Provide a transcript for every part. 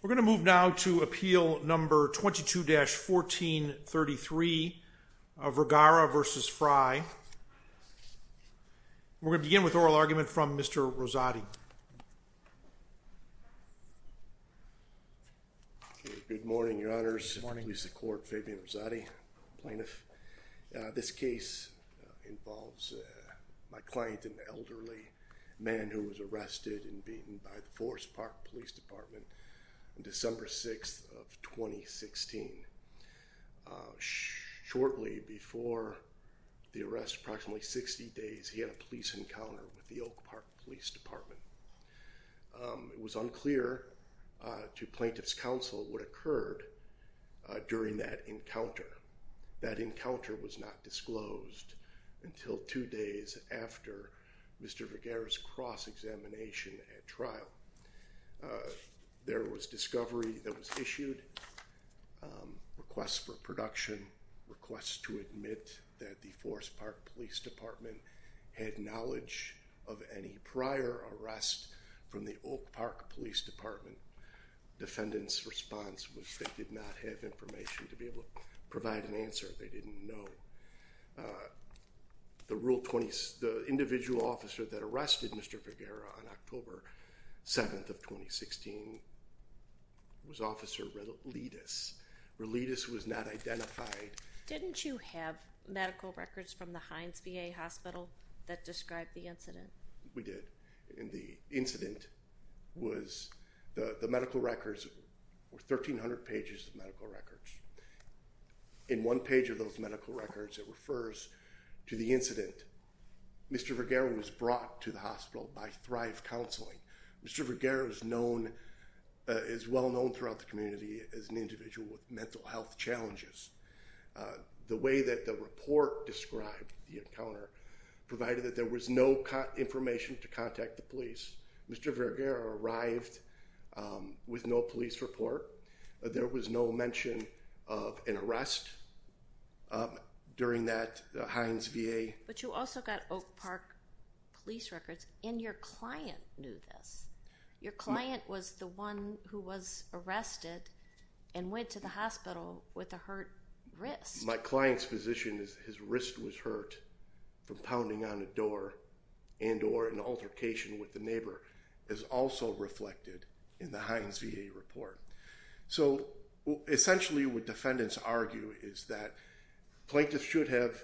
We're going to move now to Appeal No. 22-1433, Vergara v. Frey. We're going to begin with oral argument from Mr. Rosati. Good morning, Your Honors. Good morning. Please support Fabian Rosati, plaintiff. This case involves my client, an elderly man who was arrested and beaten by the Forest Park Police Department on December 6th of 2016. Shortly before the arrest, approximately 60 days, he had a police encounter with the Oak Park Police Department. It was unclear to plaintiff's counsel what occurred during that encounter. That encounter was not disclosed until two days after Mr. Vergara's cross-examination at trial. There was discovery that was issued, requests for production, requests to admit that the Forest Park Police Department had knowledge of any prior arrest from the Oak Park Police Department. Defendant's response was they did not have information to be able to provide an answer. They didn't know. The individual officer that arrested Mr. Vergara on October 7th of 2016 was Officer Relidis. Relidis was not identified. Didn't you have medical records from the Heinz VA Hospital that described the incident? We did. In the incident, the medical records were 1,300 pages of medical records. In one page of those medical records, it refers to the incident. Mr. Vergara was brought to the hospital by Thrive Counseling. Mr. Vergara is well known throughout the community as an individual with mental health challenges. The way that the report described the encounter provided that there was no information to contact the police. Mr. Vergara arrived with no police report. There was no mention of an arrest during that Heinz VA... But you also got Oak Park Police records, and your client knew this. Your client was the one who was arrested and went to the hospital with a hurt wrist. My client's position is his wrist was hurt from pounding on a door and or an altercation with a neighbor is also reflected in the Heinz VA report. So essentially what defendants argue is that plaintiffs should have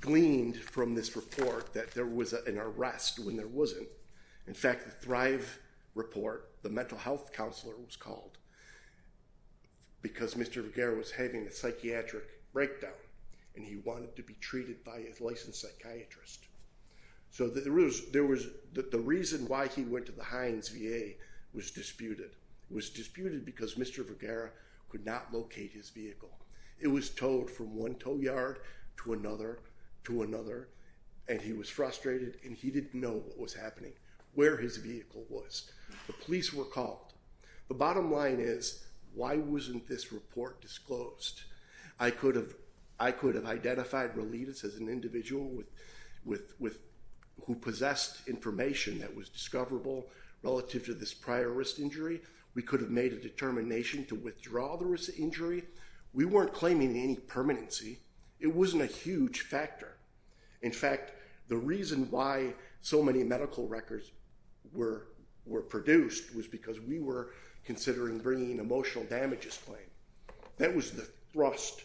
gleaned from this report that there was an arrest when there wasn't. In fact, the Thrive report, the mental health counselor was called because Mr. Vergara was having a psychiatric breakdown, and he wanted to be treated by a licensed psychiatrist. So the reason why he went to the Heinz VA was disputed. It was disputed because Mr. Vergara could not locate his vehicle. It was towed from one tow yard to another to another, and he was frustrated, and he didn't know what was happening, where his vehicle was. The police were called. The bottom line is, why wasn't this report disclosed? I could have identified Relitas as an individual who possessed information that was discoverable relative to this prior wrist injury. We could have made a determination to withdraw the wrist injury. We weren't claiming any permanency. It wasn't a huge factor. In fact, the reason why so many medical records were produced was because we were considering bringing an emotional damages claim. That was the thrust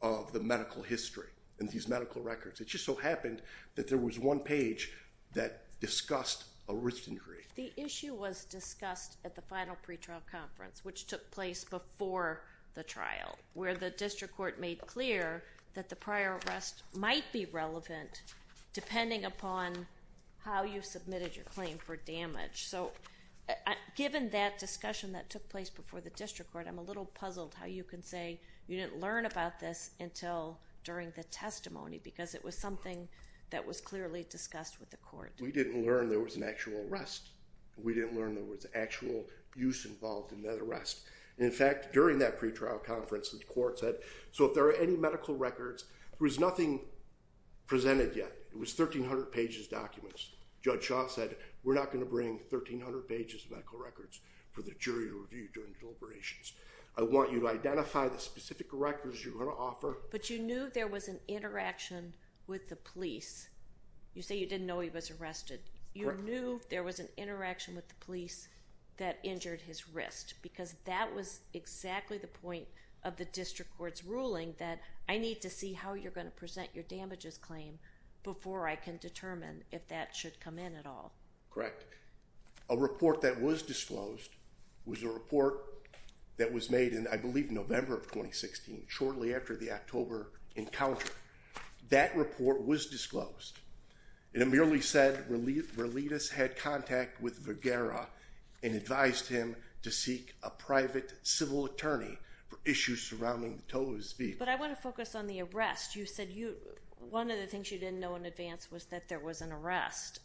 of the medical history in these medical records. It just so happened that there was one page that discussed a wrist injury. The issue was discussed at the final pretrial conference, which took place before the trial, where the district court made clear that the prior arrest might be relevant depending upon how you submitted your claim for damage. So given that discussion that took place before the district court, I'm a little puzzled how you can say you didn't learn about this until during the testimony because it was something that was clearly discussed with the court. We didn't learn there was an actual arrest. We didn't learn there was actual use involved in that arrest. In fact, during that pretrial conference, the court said, so if there are any medical records, there was nothing presented yet. It was 1,300 pages of documents. Judge Shaw said, we're not going to bring 1,300 pages of medical records for the jury to review during deliberations. I want you to identify the specific records you're going to offer. But you knew there was an interaction with the police. You say you didn't know he was arrested. You knew there was an interaction with the police that injured his wrist because that was exactly the point of the district court's ruling, that I need to see how you're going to present your damages claim before I can determine if that should come in at all. Correct. A report that was disclosed was a report that was made in, I believe, November of 2016, shortly after the October encounter. That report was disclosed. It merely said Verletis had contact with Vergara and advised him to seek a private civil attorney for issues surrounding the toe of his feet. But I want to focus on the arrest. You said one of the things you didn't know in advance was that there was an arrest.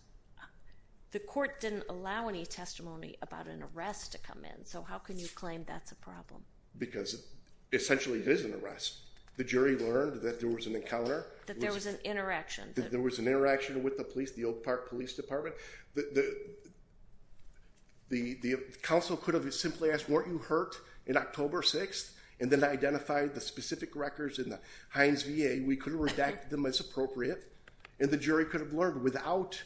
The court didn't allow any testimony about an arrest to come in. So how can you claim that's a problem? Because essentially it is an arrest. The jury learned that there was an encounter. That there was an interaction. That there was an interaction with the police, the Oak Park Police Department. The counsel could have simply asked, weren't you hurt in October 6th and then identified the specific records in the Heinz VA. We could have redacted them as appropriate, and the jury could have learned without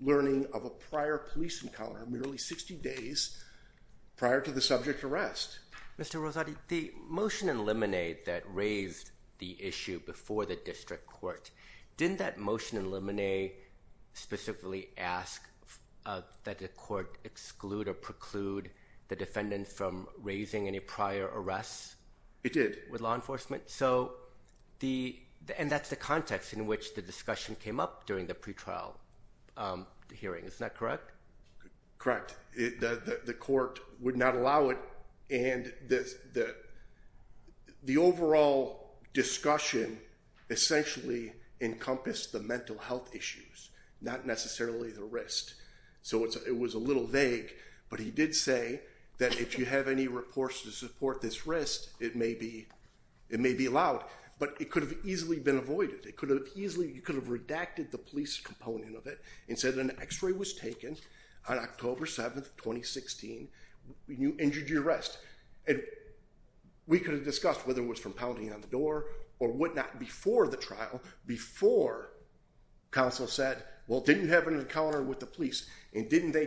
learning of a prior police encounter, merely 60 days prior to the subject arrest. Mr. Rosati, the motion in Lemonade that raised the issue before the district court, didn't that motion in Lemonade specifically ask that the court exclude or preclude the defendant from raising any prior arrests? It did. With law enforcement? And that's the context in which the discussion came up during the pretrial hearing. Isn't that correct? Correct. The court would not allow it, and the overall discussion essentially encompassed the mental health issues, not necessarily the wrist. So it was a little vague, but he did say that if you have any reports to support this wrist, it may be allowed. But it could have easily been avoided. You could have redacted the police component of it and said an X-ray was taken on October 7, 2016, and you injured your wrist. We could have discussed whether it was from pounding on the door or whatnot before the trial, before counsel said, well, didn't you have an encounter with the police, and didn't they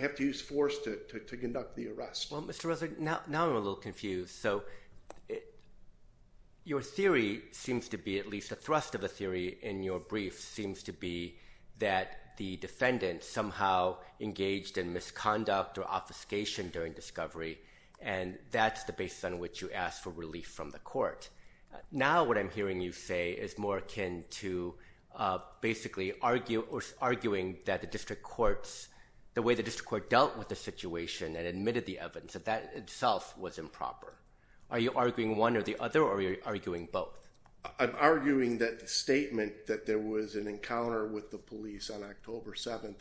have to use force to conduct the arrest? Well, Mr. Rosati, now I'm a little confused. So your theory seems to be, at least the thrust of the theory in your brief, seems to be that the defendant somehow engaged in misconduct or obfuscation during discovery, and that's the basis on which you asked for relief from the court. Now what I'm hearing you say is more akin to basically arguing that the district courts, the way the district court dealt with the situation and admitted the evidence, that that itself was improper. Are you arguing one or the other, or are you arguing both? I'm arguing that the statement that there was an encounter with the police on October 7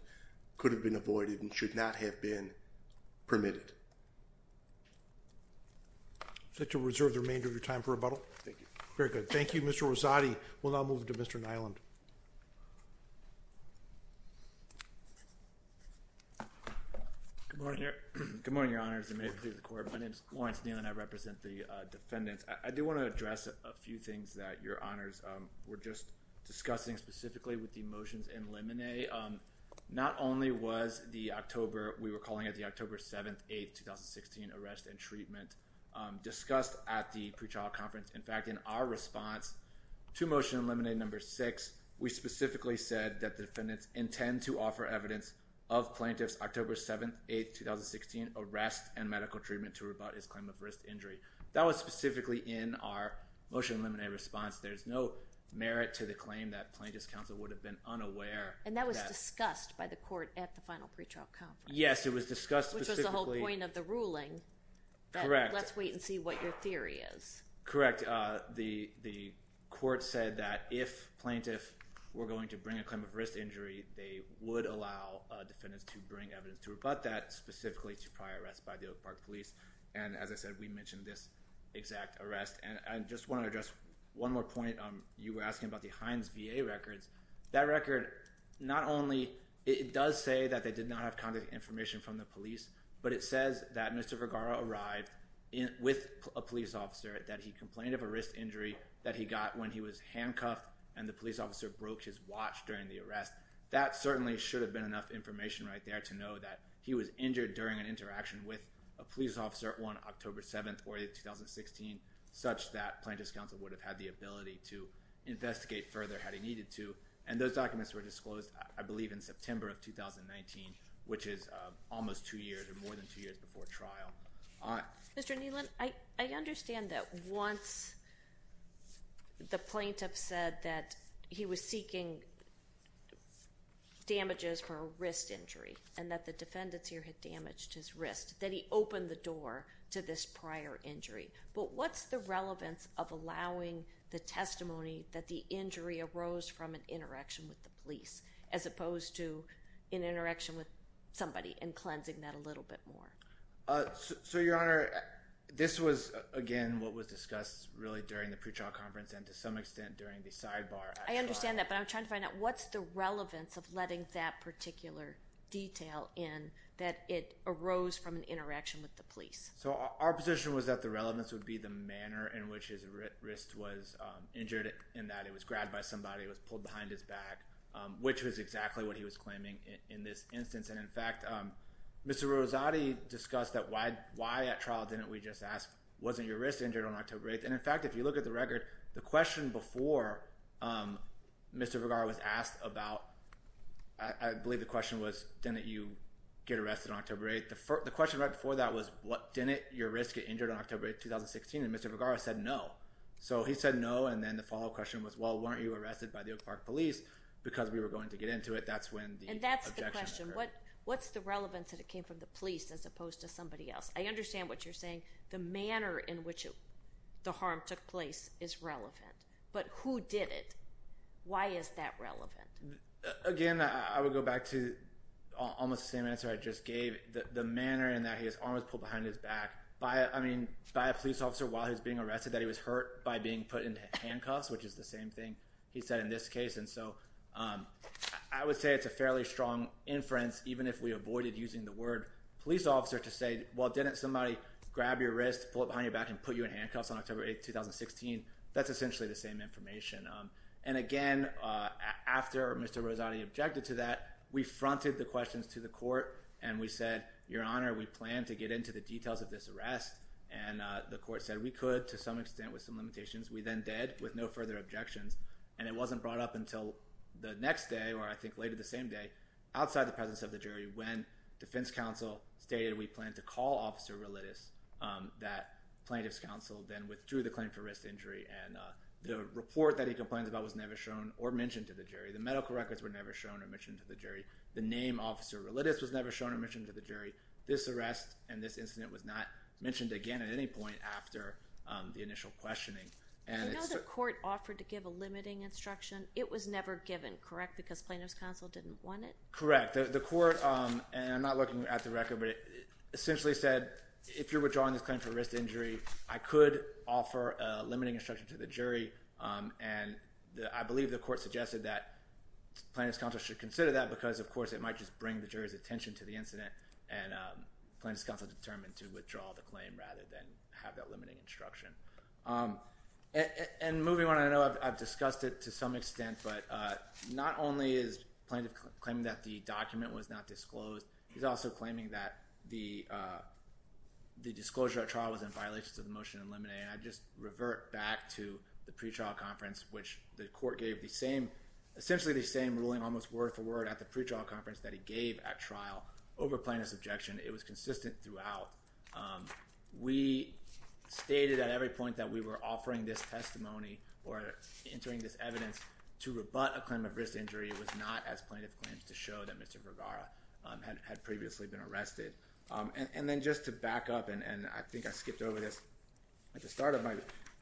could have been avoided and should not have been permitted. Is that to reserve the remainder of your time for rebuttal? Thank you. Very good. Thank you, Mr. Rosati. We'll now move to Mr. Nyland. Good morning, Your Honors. My name is Lawrence Nyland. I represent the defendants. I do want to address a few things that Your Honors were just discussing, specifically with the motions in limine. Not only was the October, we were calling it the October 7th, 8th, 2016, arrest and treatment discussed at the pre-trial conference. In fact, in our response to motion in limine number six, we specifically said that the defendants intend to offer evidence of plaintiff's October 7th, 8th, 2016, arrest and medical treatment to rebut his claim of wrist injury. That was specifically in our motion in limine response. There's no merit to the claim that plaintiff's counsel would have been unaware. And that was discussed by the court at the final pre-trial conference. Yes, it was discussed. Which was the whole point of the ruling. Correct. Let's wait and see what your theory is. Correct. The court said that if plaintiff were going to bring a claim of wrist injury, they would allow defendants to bring evidence to rebut that specifically to prior arrest by the Oak Park police. And as I said, we mentioned this exact arrest. And I just want to address one more point. You were asking about the Heinz VA records, that record, not only, it does say that they did not have contact information from the police, but it says that Mr. Vergara arrived with a police officer that he complained of a wrist injury that he got when he was handcuffed and the police officer broke his watch during the arrest. That certainly should have been enough information right there to know that he was injured during an interaction with a police officer on October 7th or 8th, 2016, such that plaintiff's counsel would have had the ability to investigate further had he needed to. And those documents were disclosed, I believe in September of 2019, which is almost two years or more than two years before trial. Mr. Nealon. I understand that once the plaintiff said that he was seeking damages for a wrist injury and that the defendants here had damaged his wrist, that he opened the door to this prior injury, but what's the relevance of allowing the testimony that the injury arose from an interaction with the police, as opposed to an interaction with somebody and cleansing that a little bit more? So your honor, this was again, what was discussed really during the pre-trial conference and to some extent during the sidebar. I understand that, but I'm trying to find out what's the relevance of letting that particular detail in that it arose from an interaction with the police. So our position was that the relevance would be the manner in which his wrist was injured in that it was grabbed by somebody that was pulled behind his back. Which was exactly what he was claiming in this instance. And in fact, Mr. Rosati discussed that. Why, why at trial, didn't we just ask, wasn't your wrist injured on October 8th? And in fact, if you look at the record, the question before Mr. Vergara was asked about, I believe the question was, didn't you get arrested on October 8th? The first, the question right before that was what, didn't your wrist get injured on October 8th, 2016? And Mr. Vergara said, no. So he said no. And then the follow-up question was, well, weren't you arrested by the Oak Park police because we were going to get into it. That's when the objection occurred. And that's the question. What, what's the relevance that it came from the police as opposed to somebody else? I understand what you're saying. The manner in which the harm took place is relevant, but who did it? Why is that relevant? Again, I would go back to almost the same answer I just gave the, the manner in that his arm was pulled behind his back by, I mean, by a police officer while he was being arrested, that he was hurt by being put into handcuffs, which is the same thing he said in this case. And so I would say it's a fairly strong inference, even if we avoided using the word police officer to say, well, didn't somebody grab your wrist, pull it behind your back and put you in handcuffs on October 8th, 2016. That's essentially the same information. And again, after Mr. Rosati objected to that, we fronted the questions to the court and we said, your honor, we plan to get into the details of this arrest. And the court said we could, to some extent with some limitations, we then dead with no further objections. And it wasn't brought up until the next day, or I think later the same day outside the presence of the jury, when defense counsel stated, we plan to call officer religious that plaintiff's counsel then withdrew the claim for risk injury. And the report that he complains about was never shown or mentioned to the jury. The medical records were never shown or mentioned to the jury. The name officer religious was never shown or mentioned to the jury. This arrest and this incident was not mentioned again at any point after the initial questioning. And the court offered to give a limiting instruction. It was never given. Correct. Because plaintiff's counsel didn't want it. Correct. The court. And I'm not looking at the record, but it essentially said, if you're withdrawing this claim for risk injury, I could offer a limiting instruction to the jury. And the, I believe the court suggested that plaintiff's counsel should consider that because of course it might just bring the jury's attention to the incident. And plaintiff's counsel determined to withdraw the claim rather than have that limiting instruction. And moving on, I know I've discussed it to some extent, but not only is plaintiff claiming that the document was not disclosed. He's also claiming that the, the disclosure at trial was in violation to the motion and limiting. I just revert back to the pretrial conference, which the court gave the same, essentially the same ruling almost word for word at the pretrial conference that he gave at trial over plaintiff's objection. It was consistent throughout. We stated at every point that we were offering this testimony or entering this evidence to rebut a claim of risk injury. It was not as plaintiff claims to show that Mr. Vergara had previously been arrested. And then just to back up, and I think I skipped over this at the start of my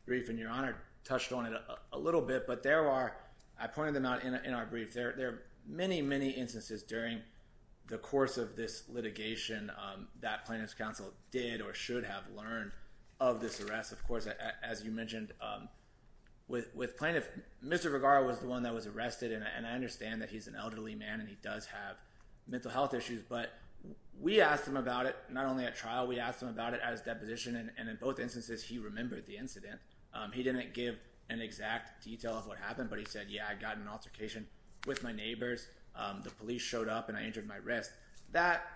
brief and your honor touched on it a little bit, but there are, I pointed them out in our brief there. There are many, many instances during the course of this litigation, that plaintiff's counsel did or should have learned of this arrest. Of course, as you mentioned with, with plaintiff, Mr. Vergara was the one that was arrested and I understand that he's an elderly man and he does have mental health issues, but we asked him about it. Not only at trial, we asked him about it as deposition. And in both instances, he remembered the incident. He didn't give an exact detail of what happened, but he said, I got an altercation with my neighbors. The police showed up and I injured my wrist. And he said, that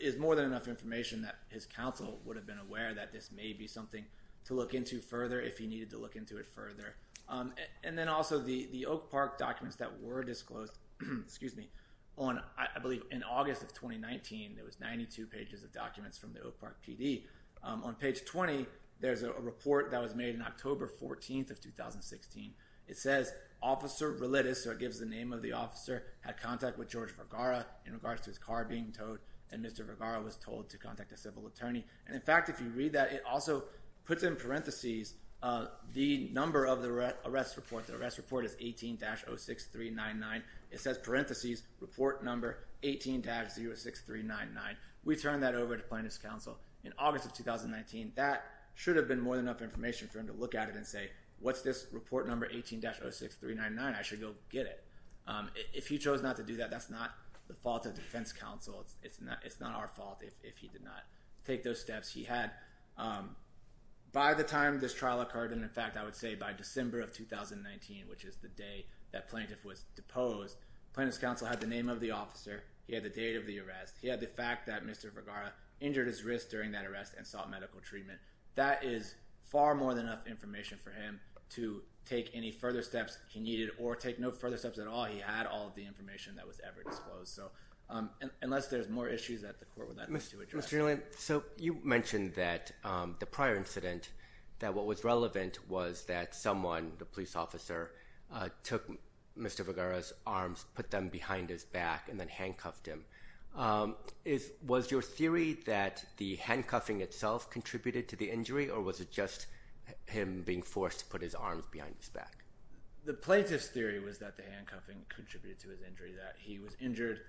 is more than enough information that his counsel would have been aware that this may be something to look into further. If he needed to look into it further. And then also the, the Oak park documents that were disclosed. Excuse me. On, I believe in August of 2019, there was 92 pages of documents from the Oak park PD. On page 20, there's a report that was made in October 14th of 2016. It says officer religious. So it gives the name of the officer had contact with George for a, in regards to his car being towed. And Mr. Vergara was told to contact a civil attorney. And in fact, if you read that, it also puts in parentheses, the number of the arrest report, the arrest report is 18 dash 0 6, 3 9, 9. It says parentheses report number 18 dash 0 6, 3 9, 9. We turn that over to plaintiff's counsel in August of 2019. That should have been more than enough information for him to look at it and say, what's this report number 18 dash 0 6, 3 9, 9. I should go get it. If he chose not to do that, that's not the fault of defense counsel. It's not, it's not our fault. If he did not take those steps, he had by the time this trial occurred. And in fact, I would say by December of 2019, which is the day that plaintiff was deposed, plaintiff's counsel had the name of the officer. He had the date of the arrest. He had the fact that Mr. Vergara injured his wrist during that arrest and sought medical treatment. That is far more than enough information for him to take any further steps. He needed or take no further steps at all. He had all of the information that was ever disclosed. So unless there's more issues that the court would like to address. So you mentioned that the prior incident, that what was relevant was that someone, the police officer took Mr. Vergara's arms, put them behind his back and then handcuffed him is, was your theory that the handcuffing itself contributed to the injury or was it just him being forced to put his arms behind his back? The plaintiff's theory was that the handcuffing contributed to his injury that he was injured.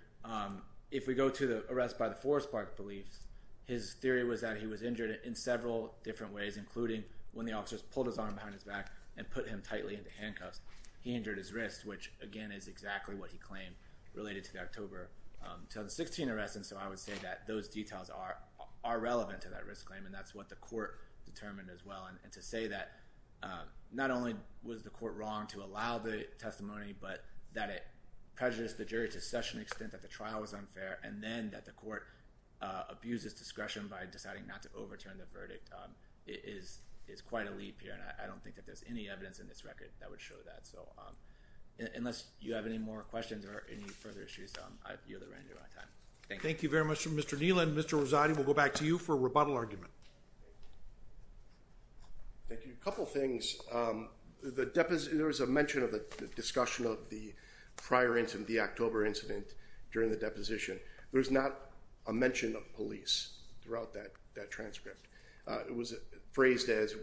If we go to the arrest by the forest park beliefs, his theory was that he was injured in several different ways, including when the officers pulled his arm behind his back and put him tightly into handcuffs, he injured his wrist, which again, is exactly what he claimed related to the October, to the 16 arrests. And so I would say that those details are, are relevant to that risk claim. And that's what the court determined as well. And to say that not only was the court wrong to allow the testimony, but that it prejudiced the jury to such an extent that the trial was unfair. And then that the court abuses discretion by deciding not to overturn the verdict. It is, it's quite a leap here and I don't think that there's any evidence in this record that would show that. So unless you have any more questions or any further issues, you're the ranger on time. Thank you. Thank you very much for Mr. Neal and Mr. Rosati. We'll go back to you for rebuttal argument. Thank you. A couple of things. There was a mention of the discussion of the prior incident, the October incident during the deposition. There was not a mention of police throughout that, that transcript. It was phrased as,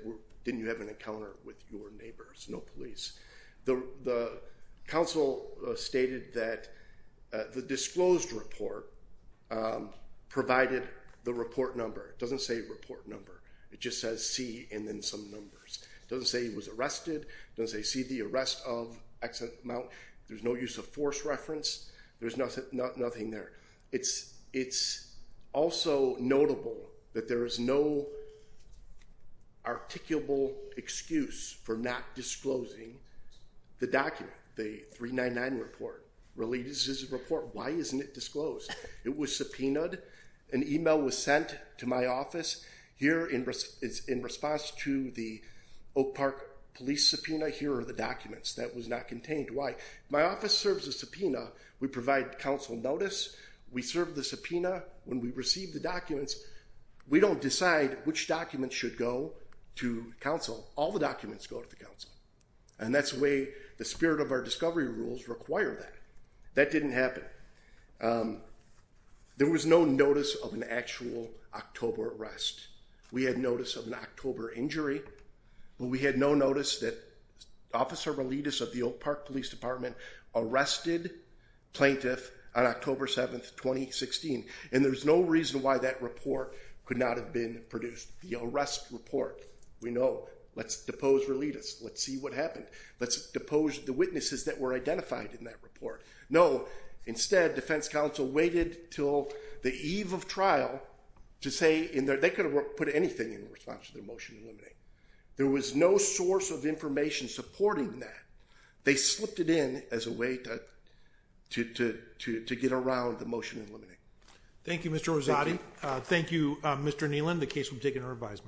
didn't you have an encounter with your neighbors? No police. The council stated that the disclosed report provided the report number. It doesn't say report number. It just says C and then some numbers. It doesn't say he was arrested. Does they see the arrest of excellent amount? There's no use of force reference. There's nothing, nothing there. It's, it's also notable that there is no articulable excuse for not disclosing the document. The three nine nine report releases report. Why isn't it disclosed? It was subpoenaed. An email was sent to my office here in risk. It's in response to the Oak park police subpoena. Here are the documents that was not contained. Why my office serves a subpoena. We provide council notice. We serve the subpoena. When we received the documents, we don't decide which documents should go to council. All the documents go to the council. And that's the way the spirit of our discovery rules require that. That didn't happen. Um, there was no notice of an actual October arrest. We had notice of an October injury, but we had no notice that officer religious of the old park police department, arrested plaintiff on October 7th, 2016. And there's no reason why that report could not have been produced. The arrest report. We know let's depose religious. Let's see what happened. Let's depose the witnesses that were identified in that report. No, instead defense council waited till the eve of trial to say in there, they could have put anything in response to their motion. Eliminate. There was no source of information supporting that. They slipped it in as a way to, to, to, to, to get around the motion and limiting. Thank you, Mr. Rosati. Thank you, Mr. Nealon.